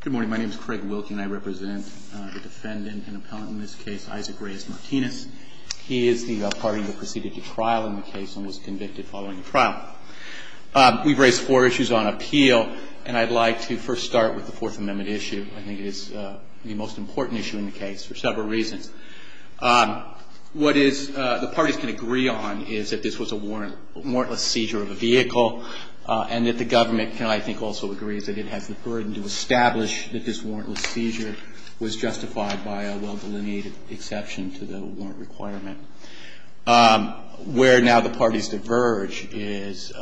Good morning. My name is Craig Wilkin. I represent the defendant and appellant in this case, Isaac Reyes Martinez. He is the party that proceeded to trial in the case and was convicted following the trial. We've raised four issues on appeal, and I'd like to first start with the Fourth Amendment issue. I think it is the most important issue in the case for several reasons. What the parties can agree on is that this was a warrantless seizure of a vehicle and that the government can, I think, also agree that it has the burden to establish that this warrantless seizure was justified by a well-delineated exception to the warrant requirement. Where now the parties diverge is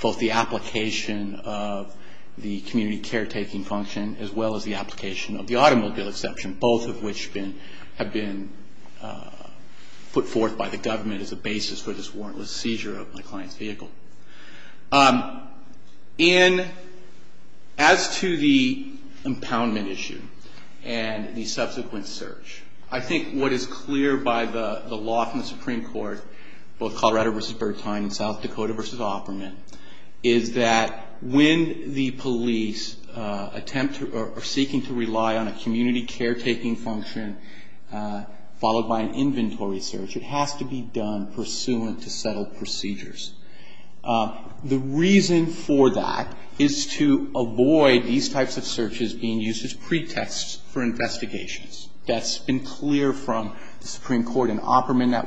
both the application of the community caretaking function as well as the application of the automobile exception, both of which have been put forth by the government as a basis for this warrantless seizure of the client's vehicle. As to the impoundment issue and the subsequent search, I think what is clear by the law from the Supreme Court, both Colorado v. Bertheim and South Dakota v. Opperman, is that when the police attempt to rely on a community caretaking function followed by an inventory search, it has to be done pursuant to settled procedures. The reason for that is to avoid these types of searches being used as pretexts for investigations. That's been clear from the Supreme Court, and Opperman, that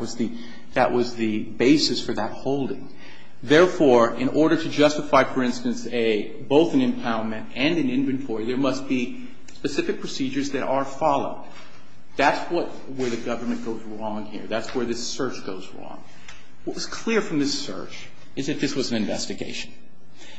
was the basis for that holding. Therefore, in order to justify, for instance, both an impoundment and an inventory, there must be specific procedures that are followed. That's where the government goes wrong here. That's where this search goes wrong. What was clear from this search is that this was an investigation,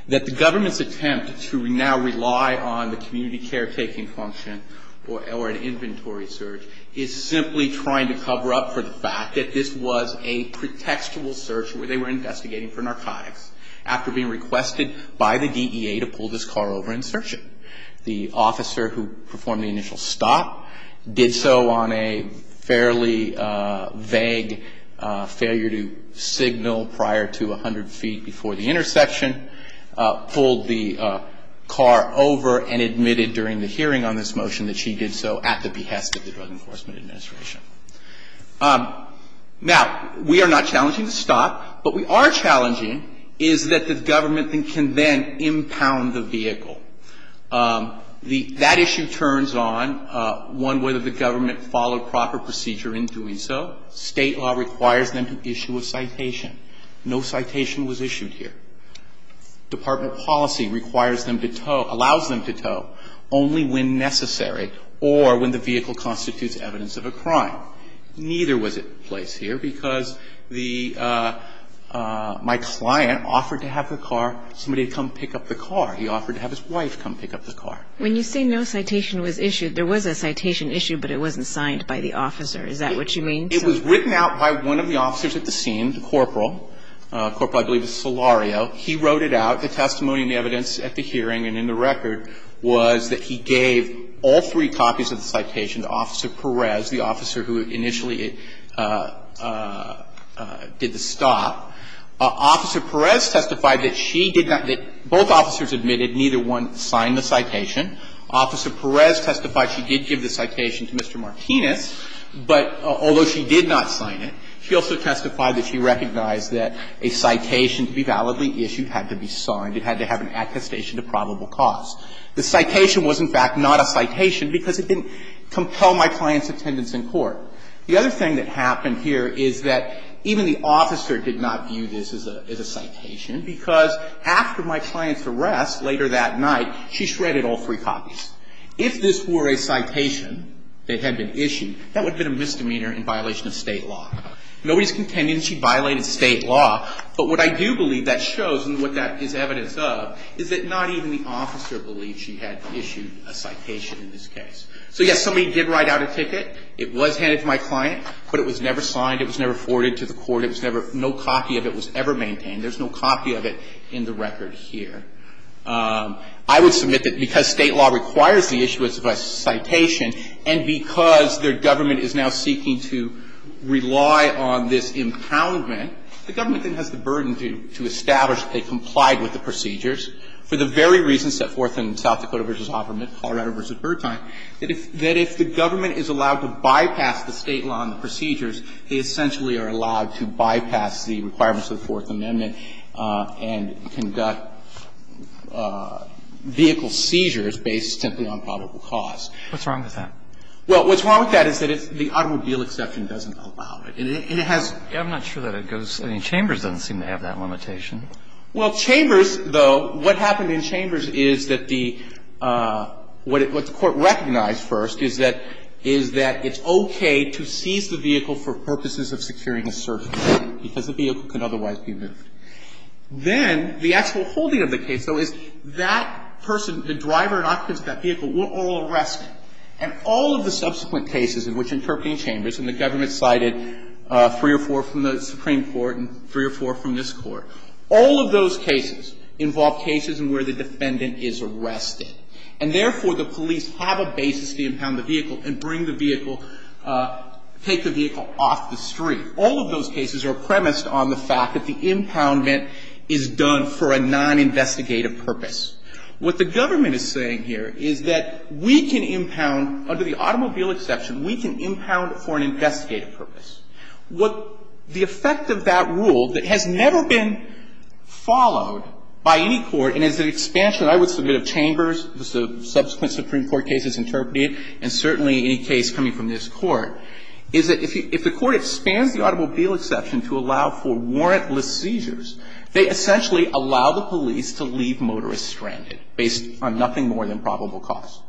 that the government's attempt to now rely on the community caretaking function or an inventory search is simply trying to cover up for the fact that this was a pretextual search where they were investigating for narcotics after being requested by the DEA to pull this car over and search it. The officer who performed the initial stop did so on a fairly vague failure to signal prior to 100 feet before the intersection, pulled the car over and admitted during the hearing on this motion that she did so at the behest of the Drug Enforcement Administration. Now, we are not challenging the stop. What we are challenging is that the government can then impound the vehicle. That issue turns on, one, whether the government followed proper procedure in doing so. State law requires them to issue a citation. No citation was issued here. Department policy requires them to tow, allows them to tow only when necessary or when the vehicle constitutes evidence of a crime. Neither was in place here because the my client offered to have the car, somebody come pick up the car. He offered to have his wife come pick up the car. When you say no citation was issued, there was a citation issue, but it wasn't signed by the officer. Is that what you mean? It was written out by one of the officers at the scene, the corporal. Corporal, I believe, is Solario. He wrote it out. The testimony and the evidence at the hearing and in the record was that he gave all three copies of the citation to Officer Perez, the officer who initially did the stop. Officer Perez testified that she did not, that both officers admitted neither one signed the citation. Officer Perez testified she did give the citation to Mr. Martinez, but although she did not sign it, she also testified that she recognized that a citation to be validly issued had to be signed. It had to have an attestation to probable cause. The citation was, in fact, not a citation because it didn't compel my client's attendance in court. The other thing that happened here is that even the officer did not view this as a citation because after my client's arrest later that night, she shredded all three copies. If this were a citation that had been issued, that would have been a misdemeanor in violation of State law. Nobody's contending she violated State law. But what I do believe that shows and what that is evidence of is that not even the officer believed she had issued a citation in this case. So, yes, somebody did write out a ticket. It was handed to my client, but it was never signed. It was never forwarded to the court. It was never, no copy of it was ever maintained. There's no copy of it in the record here. I would submit that because State law requires the issuance of a citation and because their government is now seeking to rely on this impoundment, the government then has the burden to establish that they complied with the procedures for the very reasons set forth in South Dakota v. Hofferman, Colorado v. Bertheim, that if the government is allowed to bypass the State law and the procedures, they essentially are allowed to bypass the requirements of the Fourth Amendment and conduct vehicle seizures based simply on probable cause. What's wrong with that? Well, what's wrong with that is that the automobile exception doesn't allow it. And it has. I'm not sure that it goes. I mean, Chambers doesn't seem to have that limitation. Well, Chambers, though, what happened in Chambers is that the what the court recognized first is that it's okay to seize the vehicle for purposes of securing a search warrant because the vehicle can otherwise be moved. Then the actual holding of the case, though, is that person, the driver and occupants of that vehicle were all arrested. And all of the subsequent cases in which interpreting Chambers, and the government cited three or four from the Supreme Court and three or four from this Court, all of those cases involve cases in where the defendant is arrested. And therefore, the police have a basis to impound the vehicle and bring the vehicle – take the vehicle off the street. All of those cases are premised on the fact that the impoundment is done for a non-investigative purpose. What the government is saying here is that we can impound, under the automobile exception, we can impound for an investigative purpose. What the effect of that rule that has never been followed by any court and is an expansion I would submit of Chambers, the subsequent Supreme Court cases interpreted, and certainly any case coming from this Court, is that if the Court expands the automobile exception to allow for warrantless seizures, they essentially allow the police to leave motorists stranded based on nothing more than probable cause.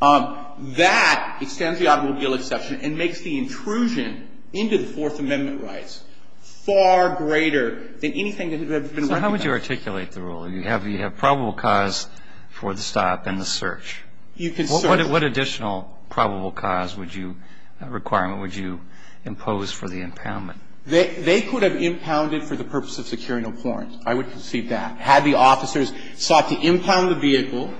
That extends the automobile exception and makes the intrusion into the Fourth Amendment rights far greater than anything that has ever been recognized. So how would you articulate the rule? You have probable cause for the stop and the search. You can search. What additional probable cause would you – requirement would you impose for the impoundment? They could have impounded for the purpose of securing a warrant. I would concede that. Had the officers sought to impound the vehicle,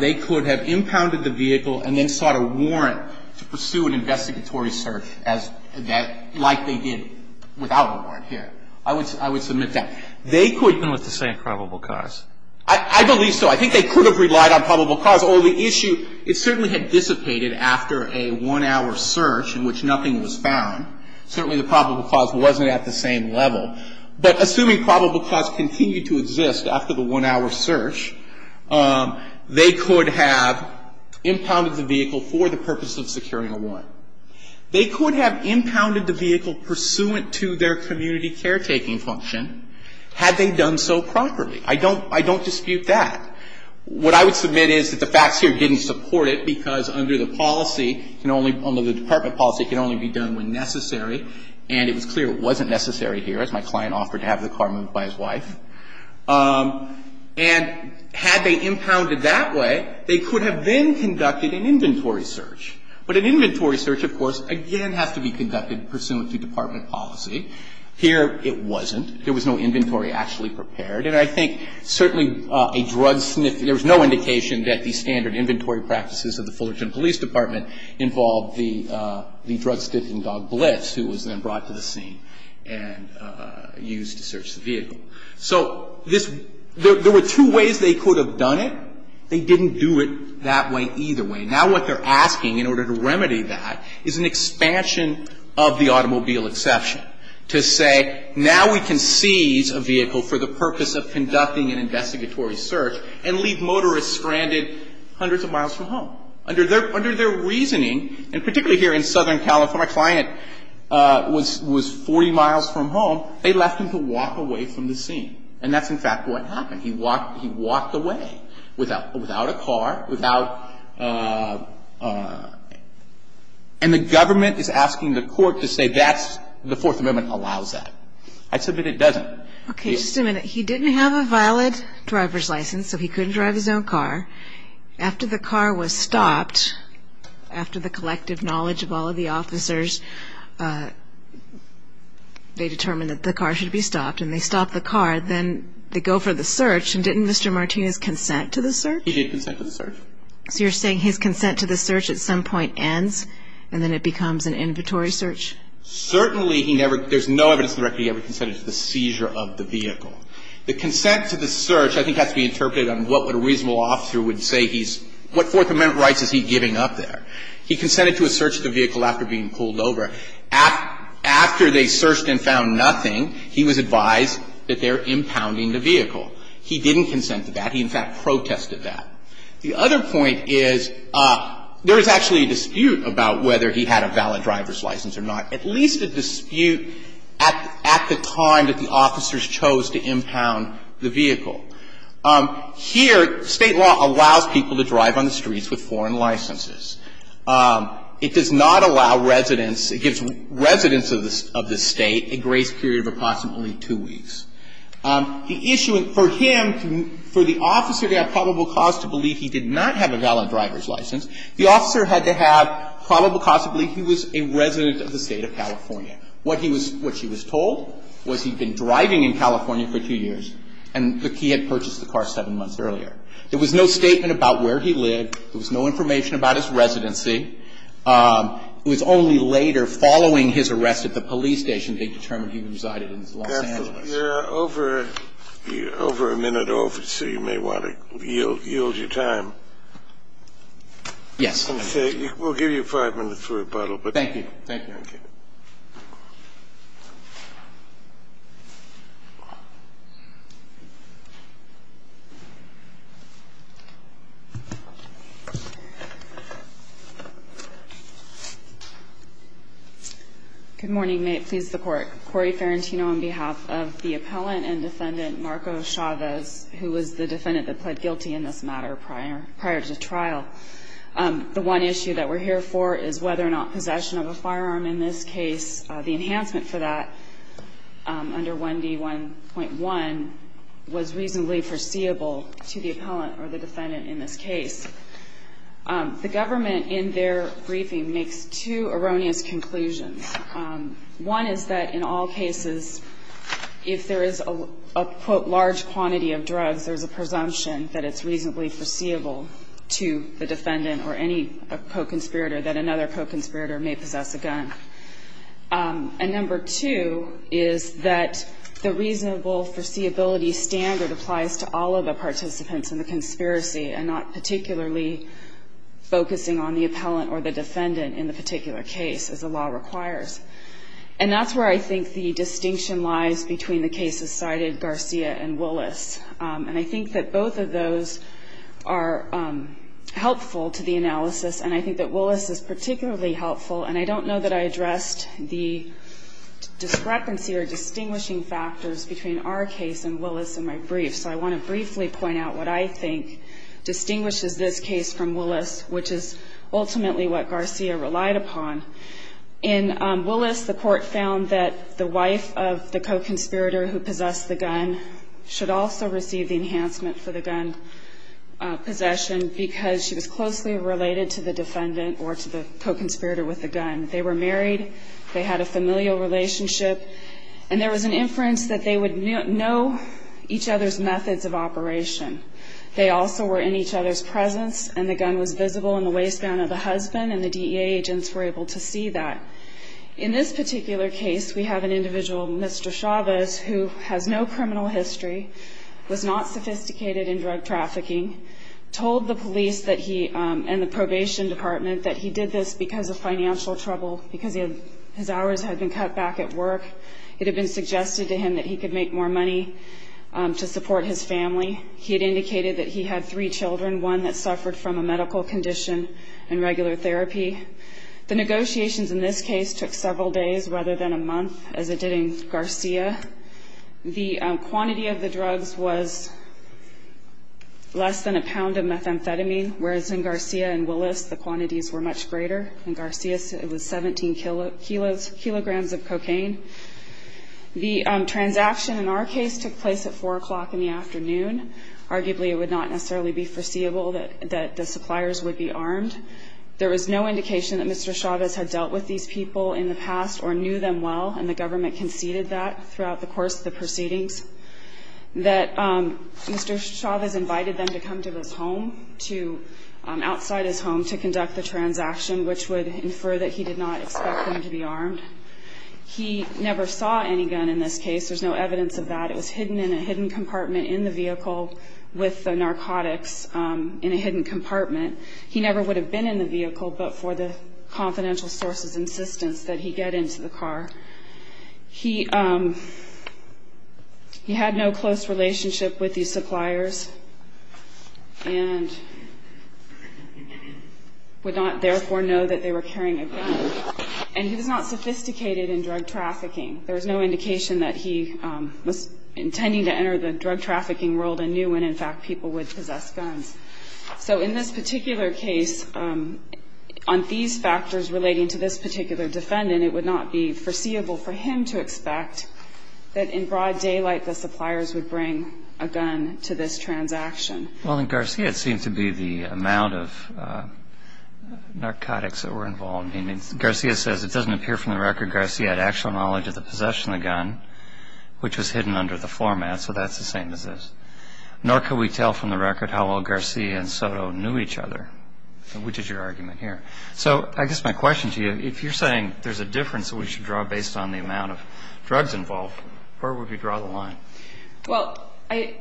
they could have impounded the vehicle and then sought a warrant to pursue an investigatory search as – like they did without a warrant here. I would submit that. They could – Even with the same probable cause. I believe so. I think they could have relied on probable cause. Although the issue, it certainly had dissipated after a one-hour search in which nothing was found. Certainly the probable cause wasn't at the same level. But assuming probable cause continued to exist after the one-hour search, they could have impounded the vehicle for the purpose of securing a warrant. They could have impounded the vehicle pursuant to their community caretaking function had they done so properly. I don't – I don't dispute that. What I would submit is that the facts here didn't support it because under the policy can only – under the department policy, it can only be done when necessary. And it was clear it wasn't necessary here, as my client offered to have the car moved by his wife. And had they impounded that way, they could have then conducted an inventory search. But an inventory search, of course, again has to be conducted pursuant to department policy. Here it wasn't. There was no inventory actually prepared. And I think certainly a drug sniffing – there was no indication that the standard inventory practices of the Fullerton Police Department involved the drug sniffing dog Blitz, who was then brought to the scene and used to search the vehicle. So this – there were two ways they could have done it. They didn't do it that way either way. Now what they're asking in order to remedy that is an expansion of the automobile exception to say now we can seize a vehicle for the purpose of conducting an investigatory search and leave motorists stranded hundreds of miles from home. Under their reasoning, and particularly here in Southern California, when my client was 40 miles from home, they left him to walk away from the scene. And that's in fact what happened. He walked away without a car, without – and the government is asking the court to say that's – the Fourth Amendment allows that. I submit it doesn't. Okay. Just a minute. He didn't have a valid driver's license, so he couldn't drive his own car. After the car was stopped, after the collective knowledge of all of the officers, they determined that the car should be stopped. And they stopped the car. Then they go for the search. And didn't Mr. Martinez consent to the search? He did consent to the search. So you're saying his consent to the search at some point ends and then it becomes an inventory search? Certainly he never – there's no evidence to the record he ever consented to the seizure of the vehicle. The consent to the search I think has to be interpreted on what a reasonable officer would say he's – what Fourth Amendment rights is he giving up there? He consented to a search of the vehicle after being pulled over. After they searched and found nothing, he was advised that they're impounding the vehicle. He didn't consent to that. He in fact protested that. The other point is there is actually a dispute about whether he had a valid driver's license or not. At least a dispute at the time that the officers chose to impound the vehicle. Here, State law allows people to drive on the streets with foreign licenses. It does not allow residents – it gives residents of this State a grace period of approximately two weeks. The issue for him, for the officer to have probable cause to believe he did not have a valid driver's license, the officer had to have probable cause to believe he was a resident of the State of California. What he was – what he was told was he'd been driving in California for two years and that he had purchased the car seven months earlier. There was no statement about where he lived. There was no information about his residency. It was only later, following his arrest at the police station, they determined he resided in Los Angeles. Scalia, you're over a minute over, so you may want to yield your time. Yes. We'll give you five minutes for rebuttal. Thank you. Thank you. Good morning. May it please the Court. Cory Ferrentino on behalf of the appellant and defendant Marco Chavez, who was the defendant that pled guilty in this matter prior – prior to trial. The one issue that we're here for is whether or not possession of a firearm in this case, the enhancement for that under 1D1.1, was reasonably foreseeable to the appellant or the defendant in this case. The government, in their briefing, makes two erroneous conclusions. One is that in all cases, if there is a, quote, large quantity of drugs, there's a co-conspirator that another co-conspirator may possess a gun. And number two is that the reasonable foreseeability standard applies to all of the participants in the conspiracy and not particularly focusing on the appellant or the defendant in the particular case, as the law requires. And that's where I think the distinction lies between the cases cited, Garcia and Willis. And I think that both of those are helpful to the analysis, and I think that Willis is particularly helpful. And I don't know that I addressed the discrepancy or distinguishing factors between our case and Willis in my brief. So I want to briefly point out what I think distinguishes this case from Willis, which is ultimately what Garcia relied upon. In Willis, the Court found that the wife of the co-conspirator who possessed the gun should also receive the enhancement for the gun possession because she was closely related to the defendant or to the co-conspirator with the gun. They were married. They had a familial relationship. And there was an inference that they would know each other's methods of operation. They also were in each other's presence, and the gun was visible in the waistband of the husband, and the DEA agents were able to see that. In this particular case, we have an individual, Mr. Chavez, who has no criminal history, was not sophisticated in drug trafficking, told the police and the probation department that he did this because of financial trouble because his hours had been cut back at work. It had been suggested to him that he could make more money to support his family. He had indicated that he had three children, one that suffered from a medical condition and regular therapy. The negotiations in this case took several days rather than a month, as it did in Garcia. The quantity of the drugs was less than a pound of methamphetamine, whereas in Garcia and Willis the quantities were much greater. In Garcia it was 17 kilograms of cocaine. The transaction in our case took place at 4 o'clock in the afternoon. Arguably it would not necessarily be foreseeable that the suppliers would be armed. There was no indication that Mr. Chavez had dealt with these people in the past or knew them well, and the government conceded that throughout the course of the proceedings, that Mr. Chavez invited them to come to his home, outside his home, to conduct the transaction, which would infer that he did not expect them to be armed. He never saw any gun in this case. There's no evidence of that. It was hidden in a hidden compartment in the vehicle with the narcotics in a hidden compartment. He never would have been in the vehicle but for the confidential sources' insistence that he get into the car. He had no close relationship with these suppliers and would not therefore know that they were carrying a gun. And he was not sophisticated in drug trafficking. There was no indication that he was intending to enter the drug trafficking world and knew when, in fact, people would possess guns. So in this particular case, on these factors relating to this particular defendant, it would not be foreseeable for him to expect that in broad daylight the suppliers would bring a gun to this transaction. Well, in Garcia, it seemed to be the amount of narcotics that were involved. I mean, Garcia says it doesn't appear from the record Garcia had actual knowledge of the possession of the gun, which was hidden under the format, so that's the same as this. Nor could we tell from the record how well Garcia and Soto knew each other, which is your argument here. So I guess my question to you, if you're saying there's a difference that we should draw based on the amount of drugs involved, where would we draw the line? Well, I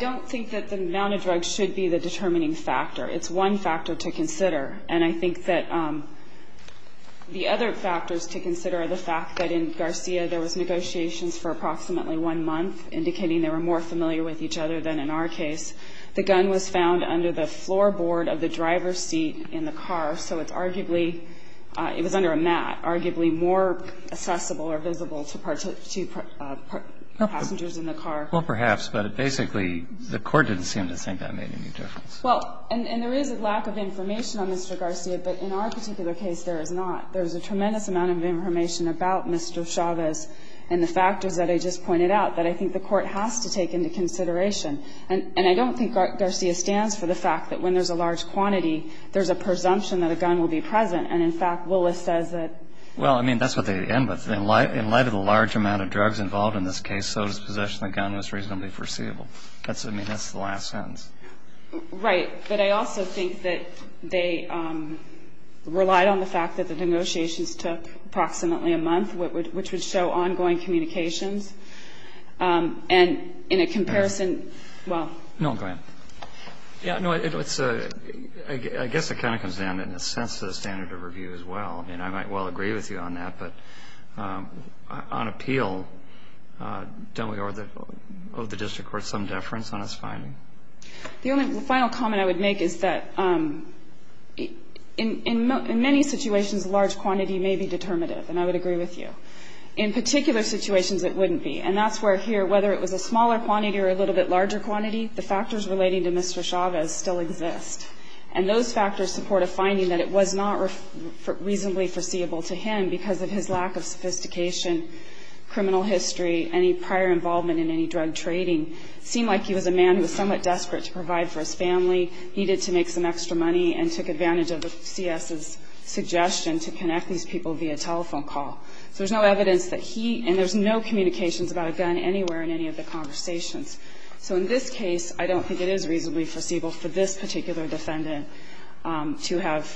don't think that the amount of drugs should be the determining factor. It's one factor to consider. And I think that the other factors to consider are the fact that in Garcia, there was negotiations for approximately one month, indicating they were more familiar with each other than in our case. The gun was found under the floorboard of the driver's seat in the car, so it's arguably under a mat, arguably more accessible or visible to passengers in the car. Well, perhaps, but basically the Court didn't seem to think that made any difference. Well, and there is a lack of information on Mr. Garcia, but in our particular case, there is not. There's a tremendous amount of information about Mr. Chavez and the factors that I just pointed out that I think the Court has to take into consideration. And I don't think Garcia stands for the fact that when there's a large quantity, there's a presumption that a gun will be present. And, in fact, Willis says that. Well, I mean, that's what they end with. In light of the large amount of drugs involved in this case, Soto's possession of the gun was reasonably foreseeable. I mean, that's the last sentence. Right. But I also think that they relied on the fact that the negotiations took approximately a month, which would show ongoing communications. And in a comparison, well. No, go ahead. Yeah, no, I guess it kind of comes down, in a sense, to the standard of review as well. I mean, I might well agree with you on that, but on appeal, don't we owe the The only final comment I would make is that in many situations, large quantity may be determinative, and I would agree with you. In particular situations, it wouldn't be. And that's where here, whether it was a smaller quantity or a little bit larger quantity, the factors relating to Mr. Chavez still exist. And those factors support a finding that it was not reasonably foreseeable to him because of his lack of sophistication, criminal history, any prior involvement in any drug trading. It seemed like he was a man who was somewhat desperate to provide for his family, needed to make some extra money, and took advantage of the C.S.'s suggestion to connect these people via telephone call. So there's no evidence that he, and there's no communications about a gun anywhere in any of the conversations. So in this case, I don't think it is reasonably foreseeable for this particular defendant to have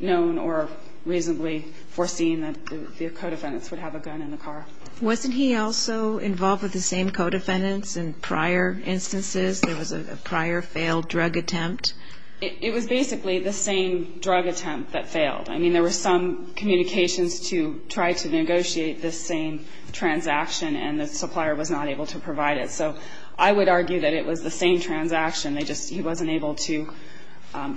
known or reasonably foreseen that the co-defendants would have a gun in the car. Wasn't he also involved with the same co-defendants in prior instances? There was a prior failed drug attempt. It was basically the same drug attempt that failed. I mean, there were some communications to try to negotiate this same transaction, and the supplier was not able to provide it. So I would argue that it was the same transaction. They just, he wasn't able to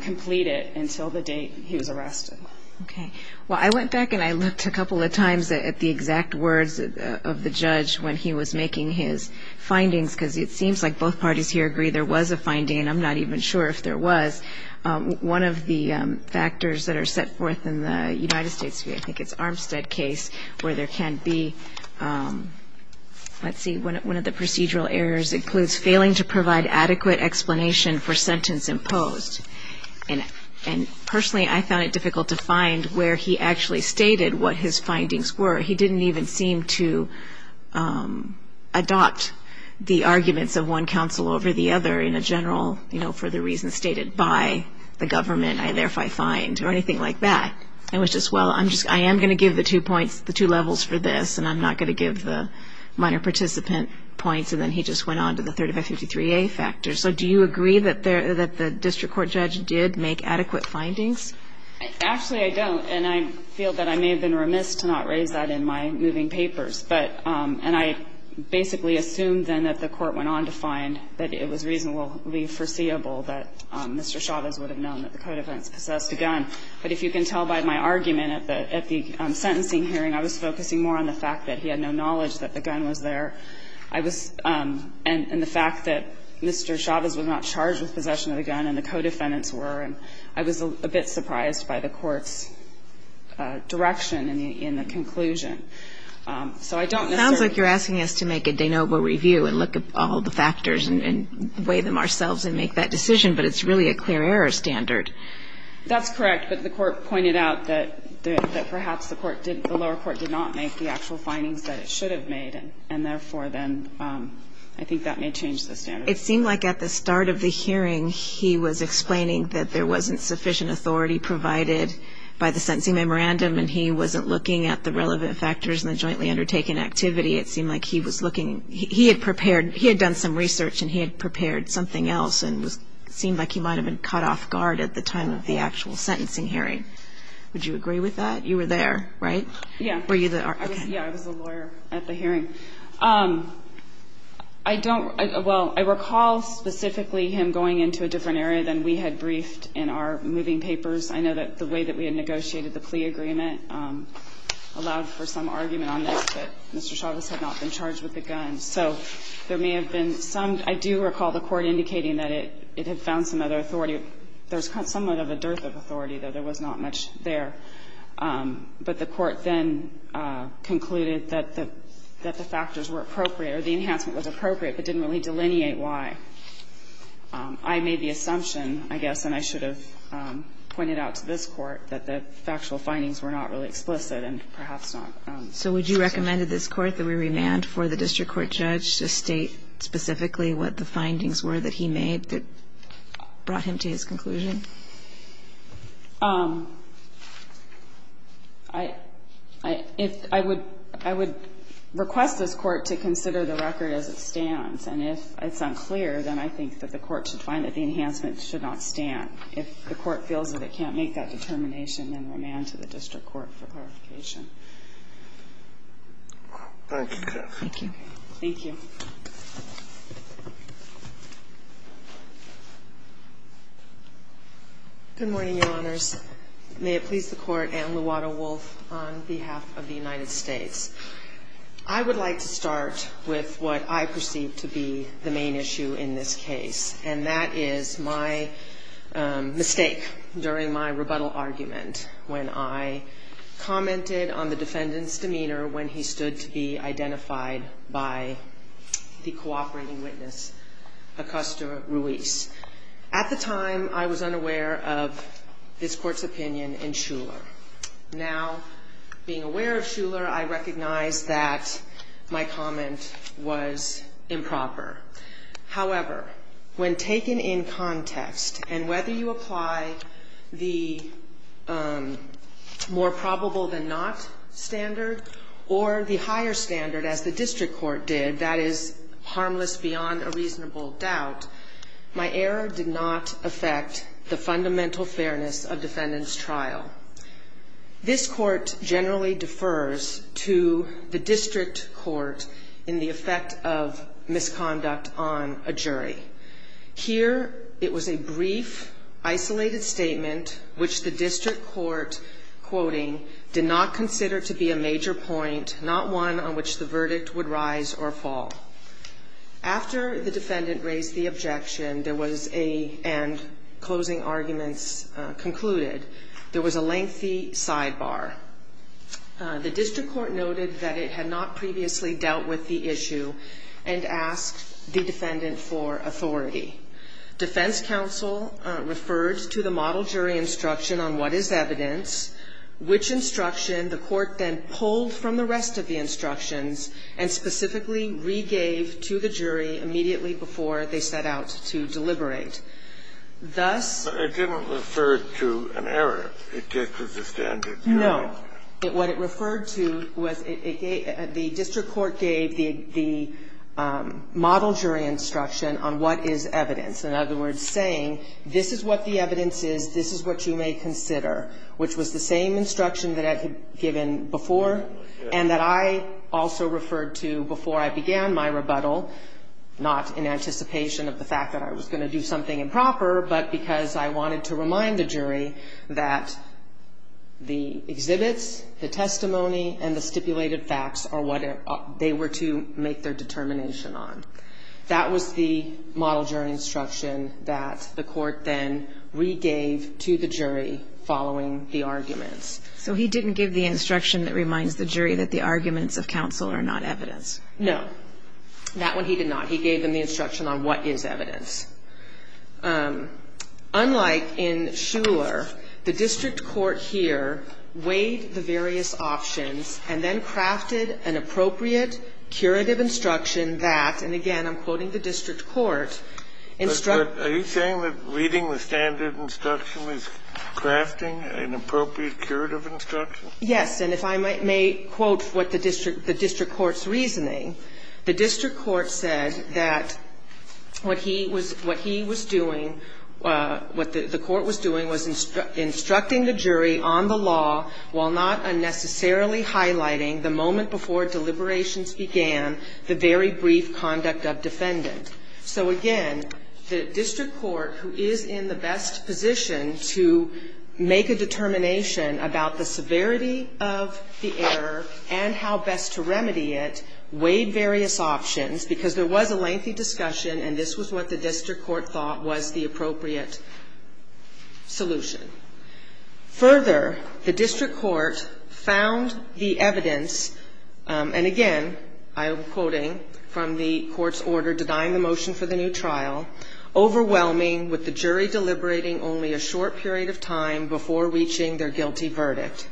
complete it until the date he was arrested. Okay. Well, I went back and I looked a couple of times at the exact words of the judge when he was making his findings, because it seems like both parties here agree there was a finding, and I'm not even sure if there was. One of the factors that are set forth in the United States, I think it's Armstead case where there can be, let's see, one of the procedural errors includes failing to provide adequate explanation for sentence imposed. And personally, I found it difficult to find where he actually stated what his findings were. He didn't even seem to adopt the arguments of one counsel over the other in a general, you know, for the reasons stated by the government, I therefore find, or anything like that. It was just, well, I am going to give the two points, the two levels for this, and I'm not going to give the minor participant points, and then he just went on to the 3553A factors. So do you agree that the district court judge did make adequate findings? Actually, I don't, and I feel that I may have been remiss to not raise that in my moving papers. But, and I basically assumed then that the court went on to find that it was reasonably foreseeable that Mr. Chavez would have known that the code offense possessed a gun. But if you can tell by my argument at the sentencing hearing, I was focusing more on the fact that he had no knowledge that the gun was there. I was, and the fact that Mr. Chavez was not charged with possession of the gun and the co-defendants were, and I was a bit surprised by the court's direction in the conclusion. So I don't necessarily. It sounds like you're asking us to make a de novo review and look at all the factors and weigh them ourselves and make that decision, but it's really a clear error standard. That's correct. But the court pointed out that perhaps the court didn't, the lower court did not make the actual findings that it should have made. And therefore, then I think that may change the standard. It seemed like at the start of the hearing he was explaining that there wasn't sufficient authority provided by the sentencing memorandum and he wasn't looking at the relevant factors in the jointly undertaken activity. It seemed like he was looking, he had prepared, he had done some research and he had prepared something else and seemed like he might have been caught off guard at the time of the actual sentencing hearing. Would you agree with that? You were there, right? Yeah. I was a lawyer at the hearing. I don't, well, I recall specifically him going into a different area than we had briefed in our moving papers. I know that the way that we had negotiated the plea agreement allowed for some argument on this, that Mr. Chavez had not been charged with a gun. So there may have been some, I do recall the court indicating that it had found some other authority. There was somewhat of a dearth of authority, though there was not much there. But the court then concluded that the factors were appropriate or the enhancement was appropriate but didn't really delineate why. I made the assumption, I guess, and I should have pointed out to this Court, that the factual findings were not really explicit and perhaps not sufficient. So would you recommend to this Court that we remand for the district court judge to state specifically what the findings were that he made that brought him to his conclusion? I would request this Court to consider the record as it stands. And if it's unclear, then I think that the court should find that the enhancement should not stand. If the court feels that it can't make that determination, then remand to the district court for clarification. Thank you. Thank you. Thank you. Good morning, Your Honors. May it please the Court. Anne Luwato-Wolf on behalf of the United States. I would like to start with what I perceive to be the main issue in this case, and that is my mistake during my rebuttal argument when I commented on the defendant's the cooperating witness, Acosta Ruiz. At the time, I was unaware of this Court's opinion in Shuler. Now, being aware of Shuler, I recognize that my comment was improper. However, when taken in context, and whether you apply the more probable than not standard or the higher standard as the district court did, that is harmless beyond a reasonable doubt, my error did not affect the fundamental fairness of defendant's trial. This Court generally defers to the district court in the effect of misconduct on a jury. Here, it was a brief, isolated statement, which the district court, quoting, did not consider to be a major point, not one on which the verdict would rise or fall. After the defendant raised the objection and closing arguments concluded, there was a lengthy sidebar. The district court noted that it had not previously dealt with the issue and asked the defendant for authority. Defense counsel referred to the model jury instruction on what is evidence, which instruction the court then pulled from the rest of the instructions and specifically regave to the jury immediately before they set out to deliberate. Thus ---- It didn't refer to an error. It just was a standard. No. What it referred to was the district court gave the model jury instruction on what is evidence. In other words, saying this is what the evidence is, this is what you may consider, which was the same instruction that I had given before and that I also referred to before I began my rebuttal, not in anticipation of the fact that I was going to do something improper, but because I wanted to remind the jury that the exhibits, the testimony, and the stipulated facts are what they were to make their determination on. That was the model jury instruction that the court then regave to the jury following the arguments. So he didn't give the instruction that reminds the jury that the arguments of counsel are not evidence. No. That one he did not. He gave them the instruction on what is evidence. Unlike in Shuler, the district court here weighed the various options and then crafted an appropriate curative instruction that, and again, I'm quoting the district court, instructs the jury. Are you saying that reading the standard instruction is crafting an appropriate curative instruction? Yes. And if I may quote what the district court's reasoning, the district court said that what he was doing, what the court was doing was instructing the jury on the law while not unnecessarily highlighting the moment before deliberations began the very brief conduct of defendant. So, again, the district court, who is in the best position to make a determination about the severity of the error and how best to remedy it, weighed various options because there was a lengthy discussion and this was what the district court thought was the appropriate solution. Further, the district court found the evidence, and again, I'm quoting from the court's order denying the motion for the new trial, overwhelming with the jury deliberating only a short period of time before reaching their guilty verdict.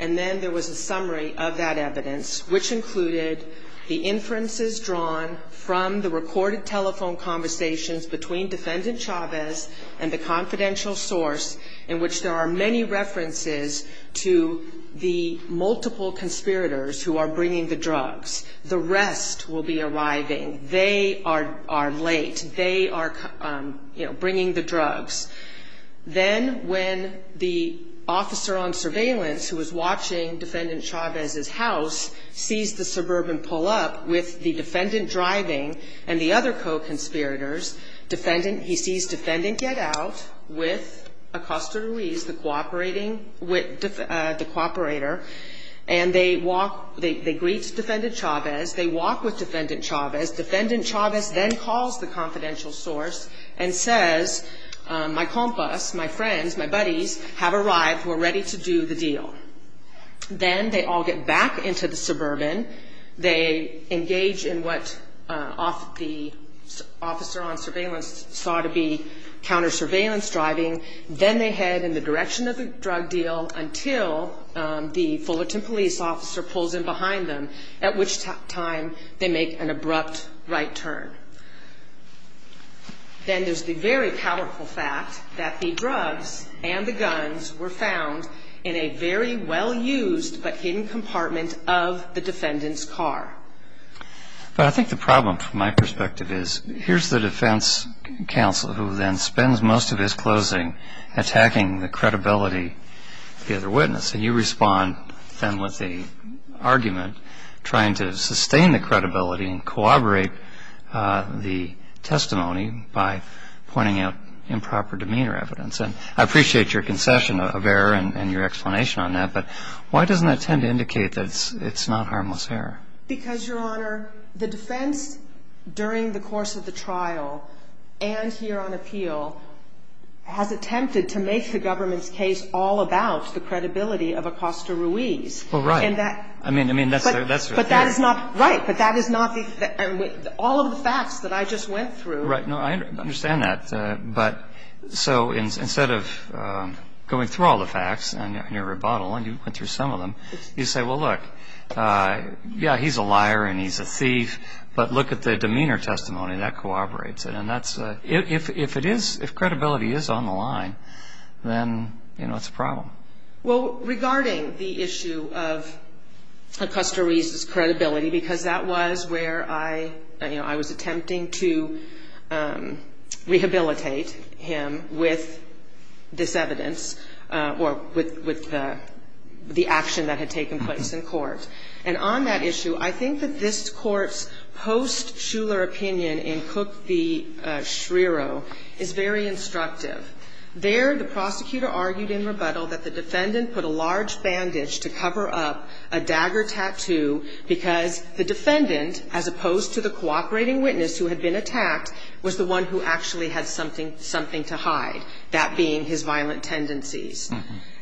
And then there was a summary of that evidence, which included the inferences drawn from the recorded telephone conversations between defendant Chavez and the confidential source in which there are many references to the multiple conspirators who are bringing the drugs. The rest will be arriving. They are late. They are, you know, bringing the drugs. Then when the officer on surveillance, who was watching defendant Chavez's house, sees the suburban pull up with the defendant driving and the other co-conspirators, he sees defendant get out with Acosta Ruiz, the cooperator, and they walk, they greet defendant Chavez. They walk with defendant Chavez. Defendant Chavez then calls the confidential source and says, my compas, my friends, my buddies have arrived. We're ready to do the deal. Then they all get back into the suburban. They engage in what the officer on surveillance saw to be counter surveillance driving. Then they head in the direction of the drug deal until the Fullerton police officer pulls in behind them, at which time they make an abrupt right turn. Then there's the very powerful fact that the drugs and the guns were found in a very well-used but hidden compartment of the defendant's car. But I think the problem from my perspective is here's the defense counsel who then spends most of his closing attacking the credibility of the other witness. And you respond then with the argument trying to sustain the credibility and corroborate the testimony by pointing out improper demeanor evidence. And I appreciate your concession of error and your explanation on that, but why doesn't that tend to indicate that it's not harmless error? Because, Your Honor, the defense during the course of the trial and here on appeal has attempted to make the government's case all about the credibility of Acosta Ruiz. Well, right. I mean, that's the thing. Right. But that is not the – all of the facts that I just went through. Right. No, I understand that. But so instead of going through all the facts in your rebuttal, and you went through some of them, you say, well, look, yeah, he's a liar and he's a thief, but look at the demeanor testimony. That corroborates it. And that's – if it is – if credibility is on the line, then, you know, it's a problem. Well, regarding the issue of Acosta Ruiz's credibility, because that was where I, you know, I was attempting to rehabilitate him with this evidence or with the action that had taken place in court. And on that issue, I think that this Court's post-Shuler opinion in Cook v. Shrero is very instructive. There the prosecutor argued in rebuttal that the defendant put a large bandage to cover up a dagger tattoo because the defendant, as opposed to the cooperating witness who had been attacked, was the one who actually had something to hide, that being his violent tendencies.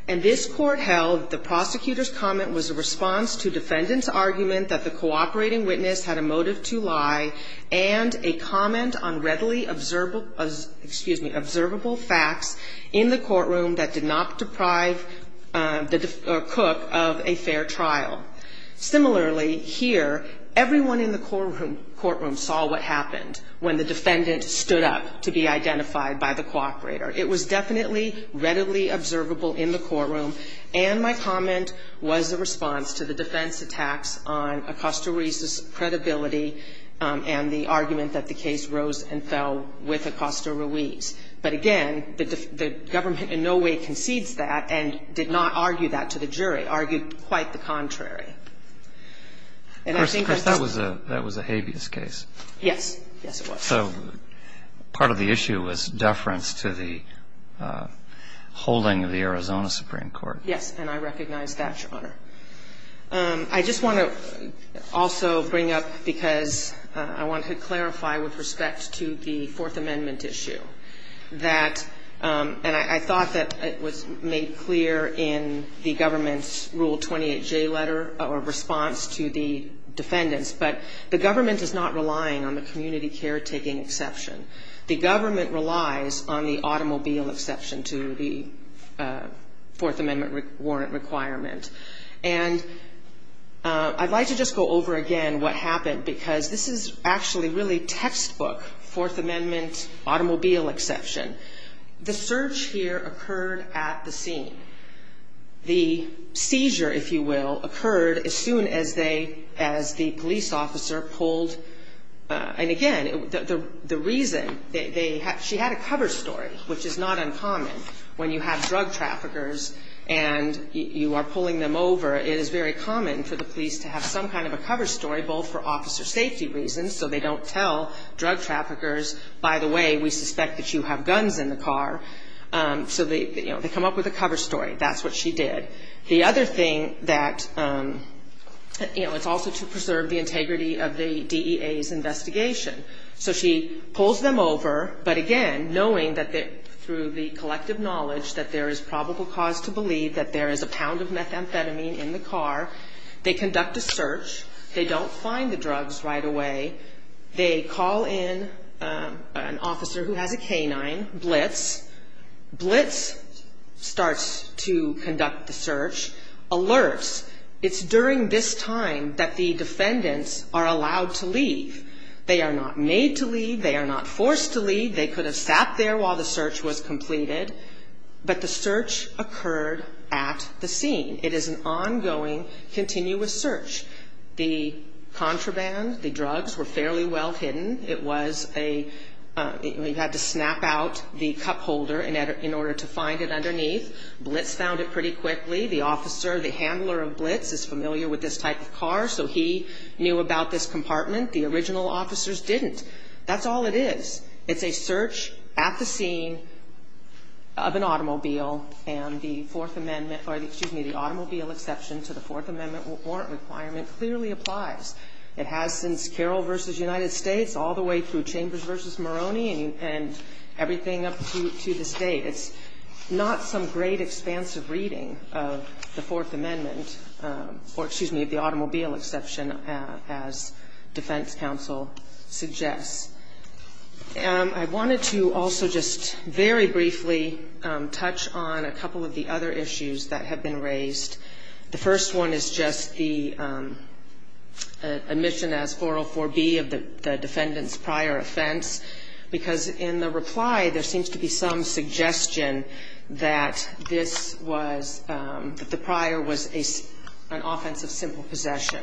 And this Court held the prosecutor's comment was a response to defendant's argument that the cooperating witness had a motive to lie and a comment on readily observable facts in the courtroom that did not deprive Cook of a fair trial. Similarly, here, everyone in the courtroom saw what happened when the defendant stood up to be identified by the cooperator. It was definitely readily observable in the courtroom, and my comment was a response to the defense attacks on Acosta Ruiz's credibility and the argument that the case rose and fell with Acosta Ruiz. But, again, the government in no way concedes that and did not argue that to the jury, argued quite the contrary. And I think that's the case. Yes. Yes, it was. So part of the issue was deference to the holding of the Arizona Supreme Court. Yes, and I recognize that, Your Honor. I just want to also bring up, because I want to clarify with respect to the Fourth Amendment issue, that, and I thought that it was made clear in the government's Rule 28J letter, or response to the defendants, but the government is not relying on the community caretaking exception. The government relies on the automobile exception to the Fourth Amendment warrant requirement. And I'd like to just go over again what happened, because this is actually really textbook Fourth Amendment automobile exception. The search here occurred at the scene. The seizure, if you will, occurred as soon as the police officer pulled, and again, the reason, she had a cover story, which is not uncommon when you have drug traffickers and you are pulling them over. It is very common for the police to have some kind of a cover story, both for officer safety reasons, so they don't tell drug traffickers, by the way, we suspect that you have guns in the car. So they, you know, they come up with a cover story. That's what she did. The other thing that, you know, it's also to preserve the integrity of the DEA's investigation. So she pulls them over, but again, knowing that through the collective knowledge that there is probable cause to believe that there is a pound of methamphetamine in the car, they conduct a search. They don't find the drugs right away. They call in an officer who has a canine, Blitz. Blitz starts to conduct the search, alerts. It's during this time that the defendants are allowed to leave. They are not made to leave. They are not forced to leave. They could have sat there while the search was completed, but the search occurred at the scene. It is an ongoing, continuous search. The contraband, the drugs, were fairly well hidden. It was a, you had to snap out the cup holder in order to find it underneath. Blitz found it pretty quickly. The officer, the handler of Blitz, is familiar with this type of car, so he knew about this compartment. The original officers didn't. That's all it is. It's a search at the scene of an automobile, and the Fourth Amendment, or excuse me, the automobile exception to the Fourth Amendment warrant requirement clearly applies. It has since Carroll v. United States all the way through Chambers v. Moroni and everything up to this date. It's not some great, expansive reading of the Fourth Amendment, or excuse me, the automobile exception, as defense counsel suggests. I wanted to also just very briefly touch on a couple of the other issues that have been raised. The first one is just the admission as 404B of the defendant's prior offense, because in the reply there seems to be some suggestion that this was, that the prior was an offense of simple possession.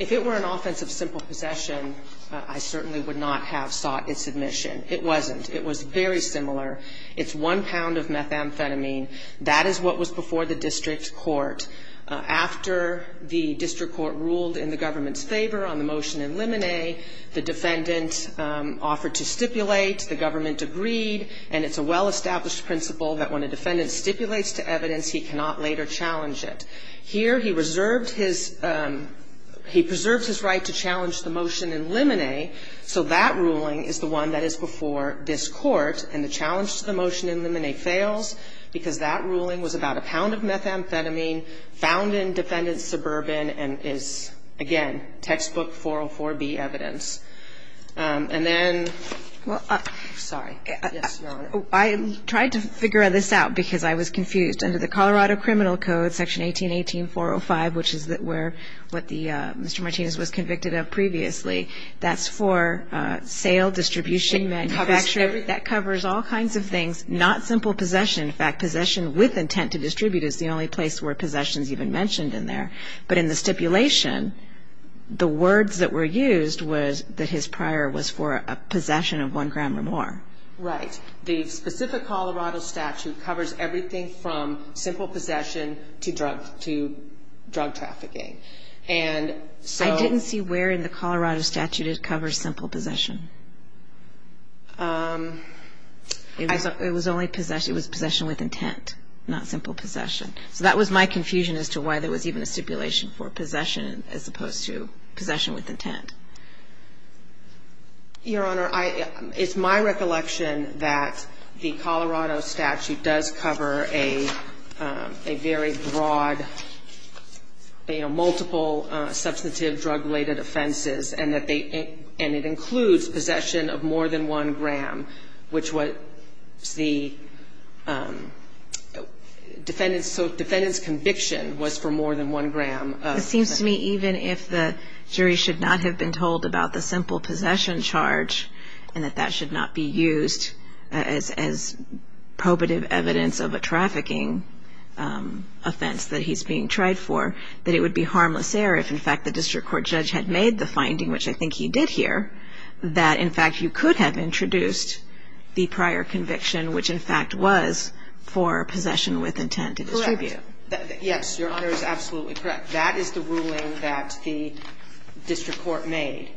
If it were an offense of simple possession, I certainly would not have sought its admission. It wasn't. It was very similar. It's one pound of methamphetamine. That is what was before the district court. After the district court ruled in the government's favor on the motion in limine, the defendant offered to stipulate, the government agreed, and it's a well-established principle that when a defendant stipulates to evidence, he cannot later challenge it. Here, he reserved his – he preserved his right to challenge the motion in limine, so that ruling is the one that is before this Court, and the challenge to the motion in limine fails because that ruling was about a pound of methamphetamine found in defendant's suburban and is, again, textbook 404B evidence. And then – sorry. Yes, Your Honor. I tried to figure this out because I was confused. Under the Colorado Criminal Code, Section 1818.405, which is where the – what Mr. Martinez was convicted of previously, that's for sale, distribution, manufacturing. That covers all kinds of things, not simple possession. In fact, possession with intent to distribute is the only place where possession is even mentioned in there. But in the stipulation, the words that were used was that his prior was for a possession of one gram or more. Right. The specific Colorado statute covers everything from simple possession to drug trafficking. And so – I didn't see where in the Colorado statute it covers simple possession. It was only possession – it was possession with intent, not simple possession. So that was my confusion as to why there was even a stipulation for possession as opposed to possession with intent. Your Honor, I – it's my recollection that the Colorado statute does cover a very broad, you know, multiple substantive drug-related offenses, and that they – and it includes possession of more than one gram, which was the defendant's – so defendant's conviction was for more than one gram. It seems to me even if the jury should not have been told about the simple possession charge, and that that should not be used as probative evidence of a trafficking offense that he's being tried for, that it would be harmless error if, in fact, the district court judge had made the finding, which I think he did here, that, in fact, you could have introduced the prior conviction, which, in fact, was for possession with intent to distribute. Correct. Yes. Your Honor is absolutely correct. That is the ruling that the district court made,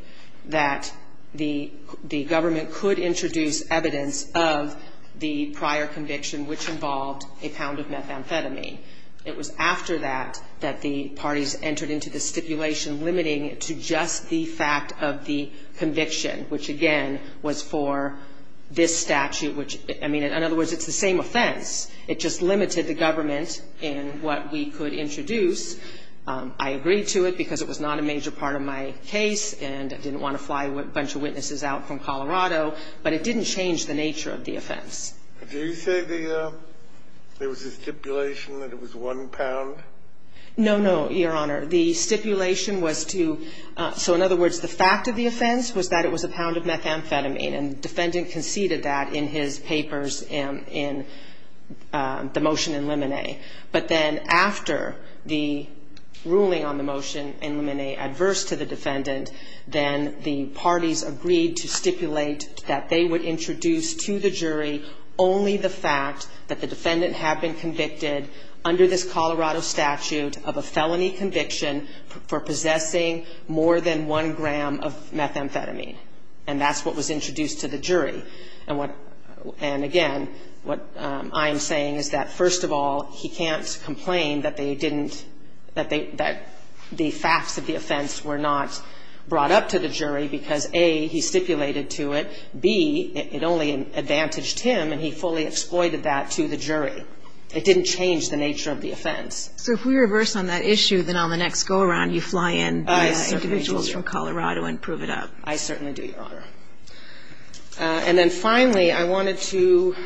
that the government could introduce evidence of the prior conviction, which involved a pound of methamphetamine. It was after that that the parties entered into the stipulation limiting it to just the fact of the conviction, which, again, was for this statute, which – I mean, in other words, it's the same offense. It just limited the government in what we could introduce. I agreed to it because it was not a major part of my case, and I didn't want to fly a bunch of witnesses out from Colorado, but it didn't change the nature of the offense. Did you say the – there was a stipulation that it was one pound? No, no, Your Honor. The stipulation was to – so, in other words, the fact of the offense was that it was a pound of methamphetamine, and the defendant conceded that in his papers in the motion in Limine. But then after the ruling on the motion in Limine adverse to the defendant, then the parties agreed to stipulate that they would introduce to the jury only the fact that the defendant had been convicted under this Colorado statute of a felony conviction for possessing more than one gram of methamphetamine, and that's what was introduced to the jury. And what – and, again, what I am saying is that, first of all, he can't complain that they didn't – that they – that the facts of the offense were not brought up to the jury because, A, he stipulated to it, B, it only advantaged him and he fully exploited that to the jury. It didn't change the nature of the offense. So if we reverse on that issue, then on the next go-around you fly in individuals from Colorado and prove it up. I certainly do, Your Honor. And then, finally, I wanted to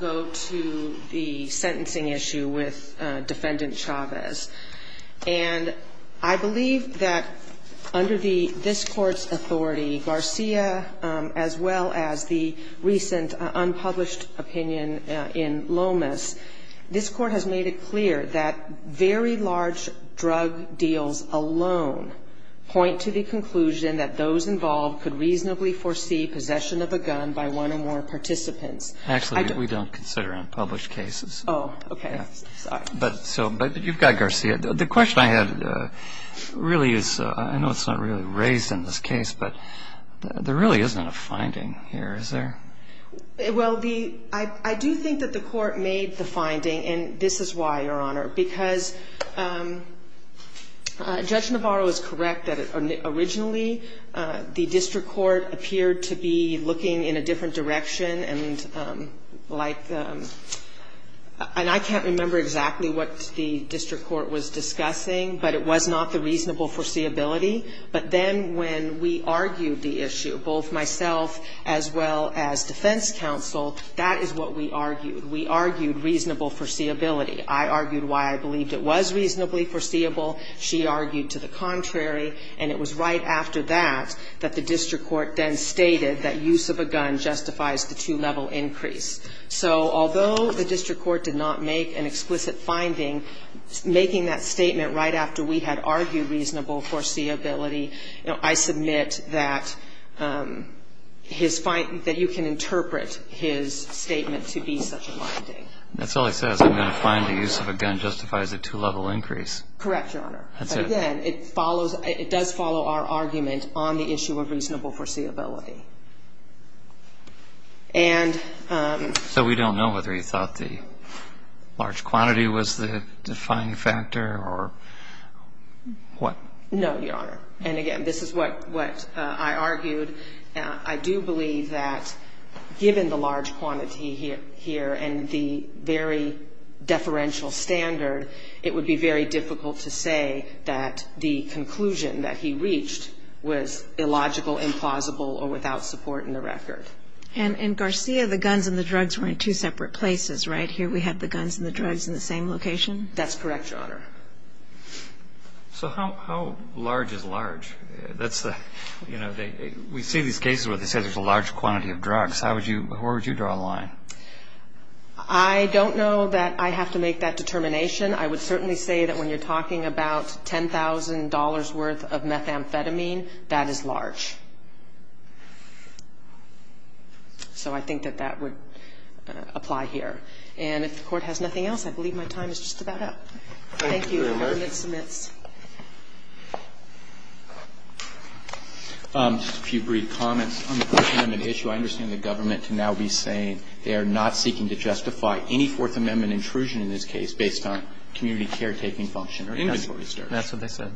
go to the sentencing issue with Defendant Chavez. And I believe that under the – this Court's authority, Garcia as well as the recent unpublished opinion in Lomas, this Court has made it clear that very large drug deals alone point to the conclusion that those involved could reasonably foresee possession of a gun by one or more participants. Actually, we don't consider unpublished cases. Oh, okay. Sorry. But so – but you've got Garcia. The question I had really is – I know it's not really raised in this case, but there really isn't a finding here, is there? Well, the – I do think that the Court made the finding, and this is why, Your Honor, because Judge Navarro is correct that originally the district court appeared to be looking in a different direction and like – and I can't remember exactly what the district court was discussing, but it was not the reasonable foreseeability. But then when we argued the issue, both myself as well as defense counsel, that is what we argued. We argued reasonable foreseeability. I argued why I believed it was reasonably foreseeable. She argued to the contrary. And it was right after that that the district court then stated that use of a gun justifies the two-level increase. So although the district court did not make an explicit finding, making that statement right after we had argued reasonable foreseeability, I submit that his – that you can interpret his statement to be such a finding. That's all he says. I'm going to find the use of a gun justifies a two-level increase. Correct, Your Honor. That's it. Again, it follows – it does follow our argument on the issue of reasonable foreseeability. So we don't know whether he thought the large quantity was the defined factor or what? No, Your Honor. And again, this is what I argued. I do believe that given the large quantity here and the very deferential standard, it would be very difficult to say that the conclusion that he reached was illogical, implausible, or without support in the record. And in Garcia, the guns and the drugs were in two separate places, right? Here we have the guns and the drugs in the same location? That's correct, Your Honor. So how large is large? That's the – you know, we see these cases where they say there's a large quantity of drugs. How would you – where would you draw the line? I don't know that I have to make that determination. I would certainly say that when you're talking about $10,000 worth of methamphetamine, that is large. So I think that that would apply here. And if the Court has nothing else, I believe my time is just about up. Thank you. Thank you, Your Honor. The government submits. Just a few brief comments on the Fourth Amendment issue. I understand the government can now be saying they are not seeking to justify any Fourth Amendment intrusion in this case based on community caretaking function or inventory search. That's what they said.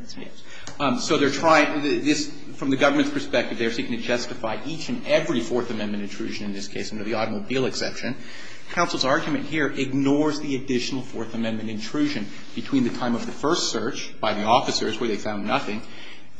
Yes. So they're trying – from the government's perspective, they are seeking to justify each and every Fourth Amendment intrusion in this case, under the automobile exception. Counsel's argument here ignores the additional Fourth Amendment intrusion between the time of the first search by the officers where they found nothing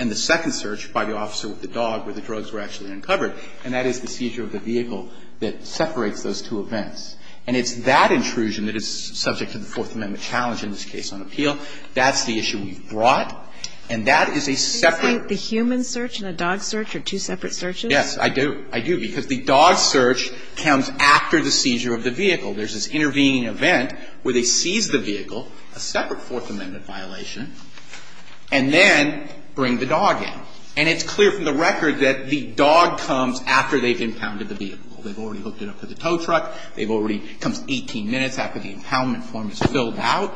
and the second search by the officer with the dog where the drugs were actually uncovered. And that is the seizure of the vehicle that separates those two events. And it's that intrusion that is subject to the Fourth Amendment challenge in this case on appeal. That's the issue we've brought. And that is a separate – So you're saying the human search and the dog search are two separate searches? Yes, I do. I do. Because the dog search comes after the seizure of the vehicle. There's this intervening event where they seize the vehicle, a separate Fourth Amendment violation, and then bring the dog in. And it's clear from the record that the dog comes after they've impounded the vehicle. They've already hooked it up to the tow truck. They've already – it comes 18 minutes after the impoundment form is filled out.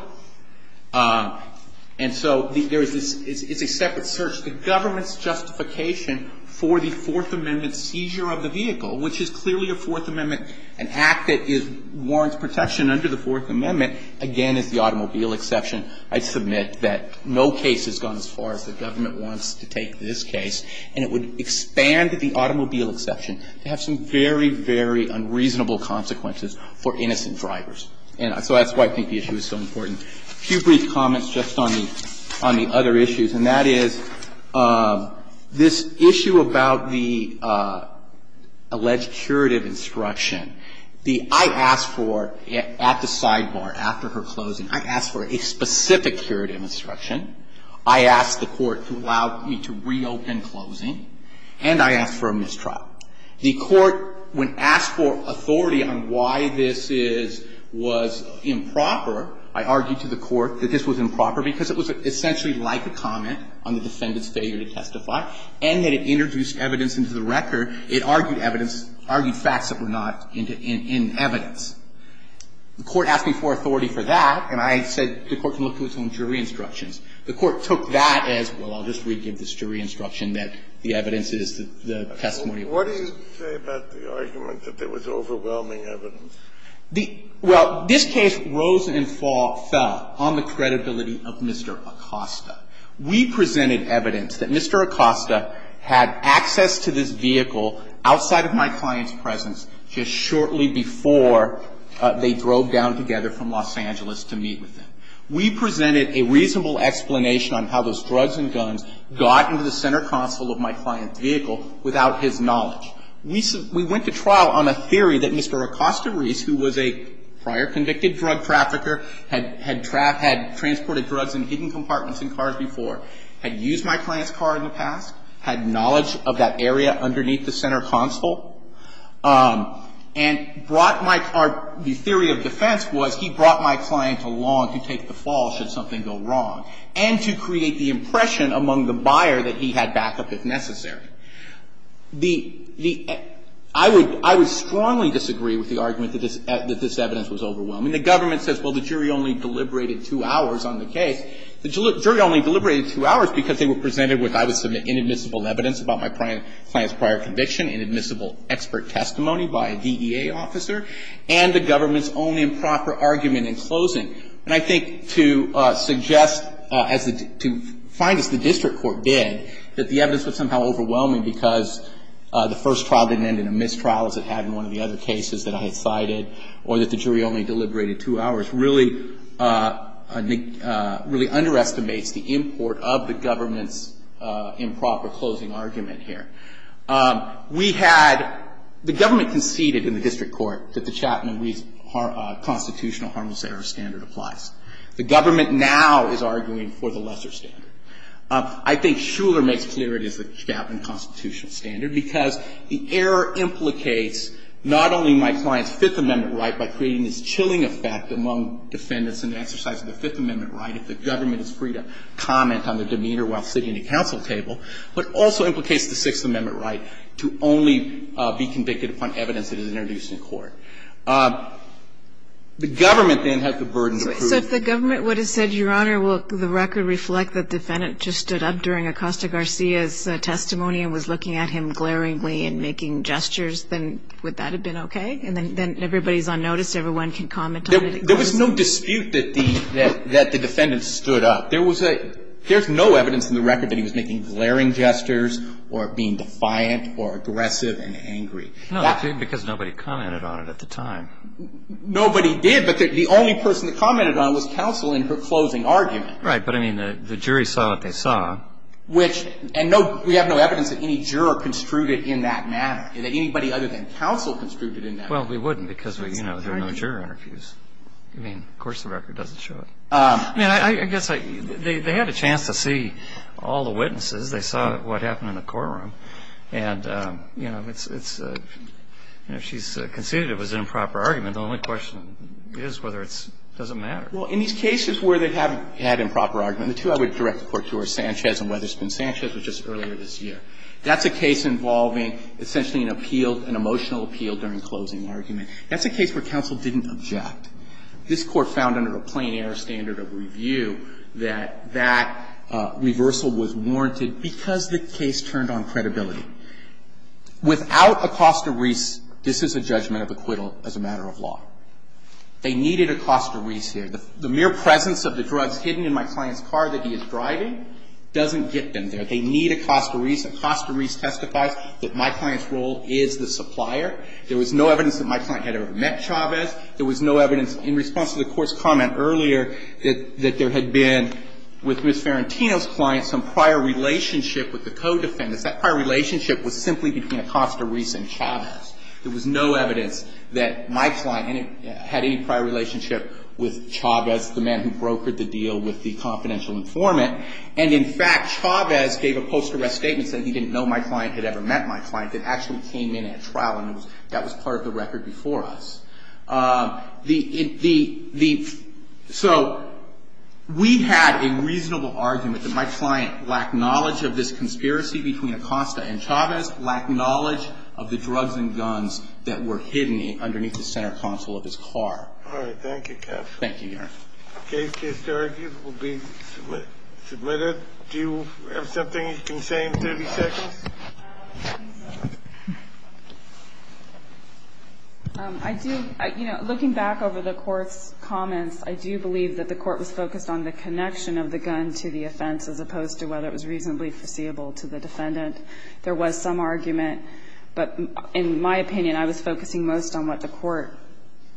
And so there is this – it's a separate search. The government's justification for the Fourth Amendment seizure of the vehicle, which is clearly a Fourth Amendment – an act that is – warrants protection under the Fourth Amendment, again, is the automobile exception. I submit that no case has gone as far as the government wants to take this case. And it would expand the automobile exception to have some very, very unreasonable consequences for innocent drivers. And so that's why I think the issue is so important. A few brief comments just on the other issues, and that is this issue about the alleged curative instruction. The – I asked for – at the sidebar, after her closing, I asked for a specific curative instruction. I asked the court to allow me to reopen closing. And I asked for a mistrial. The court, when asked for authority on why this is – was improper, I argued to the court that this was improper because it was essentially like a comment on the defendant's failure to testify, and that it introduced evidence into the record. It argued evidence – argued facts that were not in evidence. The court asked me for authority for that, and I said the court can look to its own jury instructions. The court took that as, well, I'll just re-give this jury instruction that the evidence is that the testimony was false. What do you say about the argument that there was overwhelming evidence? The – well, this case rose and fell on the credibility of Mr. Acosta. We presented evidence that Mr. Acosta had access to this vehicle outside of my client's presence just shortly before they drove down together from Los Angeles to meet with him. We presented a reasonable explanation on how those drugs and guns got into the center console of my client's vehicle without his knowledge. We went to trial on a theory that Mr. Acosta Reese, who was a prior convicted drug trafficker, had transported drugs in hidden compartments in cars before, had used my client's car in the past, had knowledge of that area underneath the center console, and brought my – the theory of defense was he brought my client along to take the drugs, and I would have to go to the buyer that he had backup if necessary. The – I would strongly disagree with the argument that this evidence was overwhelming. The government says, well, the jury only deliberated two hours on the case. The jury only deliberated two hours because they were presented with, I would submit, inadmissible evidence about my client's prior conviction, inadmissible expert testimony by a DEA officer, and the government's own improper argument in closing. And I think to suggest as the – to find as the district court did that the evidence was somehow overwhelming because the first trial didn't end in a mistrial as it had in one of the other cases that I had cited, or that the jury only deliberated two hours, really – really underestimates the import of the government's improper closing argument here. We had – the government conceded in the district court that the Chapman-Reese constitutional harmless error standard applies. The government now is arguing for the lesser standard. I think Shuler makes clear it is the Chapman constitutional standard because the error implicates not only my client's Fifth Amendment right by creating this chilling effect among defendants in the exercise of the Fifth Amendment right if the government is free to comment on the demeanor while sitting at a council table, but also implicates the Sixth Amendment right to only be convicted upon evidence that is introduced in court. The government then has the burden to prove. So if the government would have said, Your Honor, will the record reflect that the defendant just stood up during Acosta-Garcia's testimony and was looking at him glaringly and making gestures, then would that have been okay? And then everybody's on notice, everyone can comment on it. There was no dispute that the – that the defendant stood up. There was a – there's no evidence in the record that he was making glaring gestures or being defiant or aggressive and angry. No, because nobody commented on it at the time. Nobody did, but the only person that commented on it was counsel in her closing argument. Right. But, I mean, the jury saw what they saw. Which – and no – we have no evidence that any juror construed it in that manner, that anybody other than counsel construed it in that manner. Well, we wouldn't because, you know, there are no juror interviews. I mean, of course the record doesn't show it. I mean, I guess I – they had a chance to see all the witnesses. They saw what happened in the courtroom. And, you know, it's – you know, she's conceded it was an improper argument. The only question is whether it's – doesn't matter. Well, in these cases where they have had improper argument, the two I would direct the Court to are Sanchez and Weatherspoon. Sanchez was just earlier this year. That's a case involving essentially an appeal, an emotional appeal during closing argument. That's a case where counsel didn't object. This Court found under the plain error standard of review that that reversal was warranted because the case turned on credibility. Without Acosta-Reis, this is a judgment of acquittal as a matter of law. They needed Acosta-Reis here. The mere presence of the drugs hidden in my client's car that he is driving doesn't get them there. They need Acosta-Reis. Acosta-Reis testifies that my client's role is the supplier. There was no evidence that my client had ever met Chavez. There was no evidence in response to the Court's comment earlier that there had been with Ms. Farentino's client some prior relationship with the co-defendants. That prior relationship was simply between Acosta-Reis and Chavez. There was no evidence that my client had any prior relationship with Chavez, the man who brokered the deal with the confidential informant. And in fact, Chavez gave a post-arrest statement saying he didn't know my client had ever met my client. It actually came in at trial, and that was part of the record before us. So we had a reasonable argument that my client lacked knowledge of this conspiracy between Acosta and Chavez, lacked knowledge of the drugs and guns that were hidden underneath the center console of his car. All right. Thank you, counsel. Thank you, Your Honor. The case to argue will be submitted. Do you have something you can say in 30 seconds? I do. You know, looking back over the Court's comments, I do believe that the Court was focused on the connection of the gun to the offense as opposed to whether it was reasonably foreseeable to the defendant. There was some argument, but in my opinion, I was focusing most on what the Court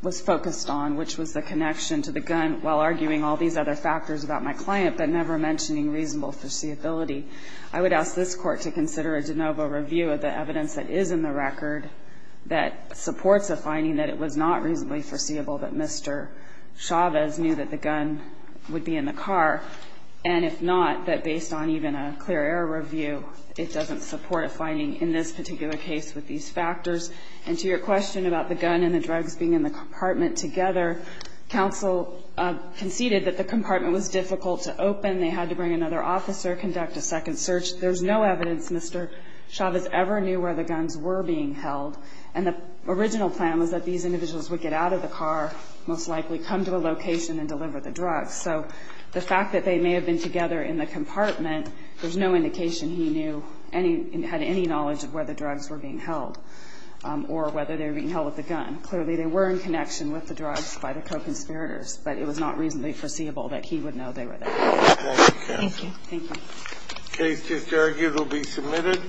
was focused on, which was the connection to the gun while arguing all these other factors about my client, but never mentioning reasonable foreseeability. I would ask this Court to consider a de novo review of the evidence that is in the record that supports a finding that it was not reasonably foreseeable that Mr. Chavez knew that the gun would be in the car, and if not, that based on even a clear error review, it doesn't support a finding in this particular case with these factors. And to your question about the gun and the drugs being in the compartment together, counsel conceded that the compartment was difficult to open. They had to bring another officer, conduct a second search. There's no evidence Mr. Chavez ever knew where the guns were being held, and the original plan was that these individuals would get out of the car, most likely come to a location and deliver the drugs. So the fact that they may have been together in the compartment, there's no indication he knew any – had any knowledge of where the drugs were being held or whether they were being held with the gun. Clearly, they were in connection with the drugs by the co-conspirators, but it was not reasonably foreseeable that he would know they were there. Thank you. Thank you. The case is adjourned. It will be submitted.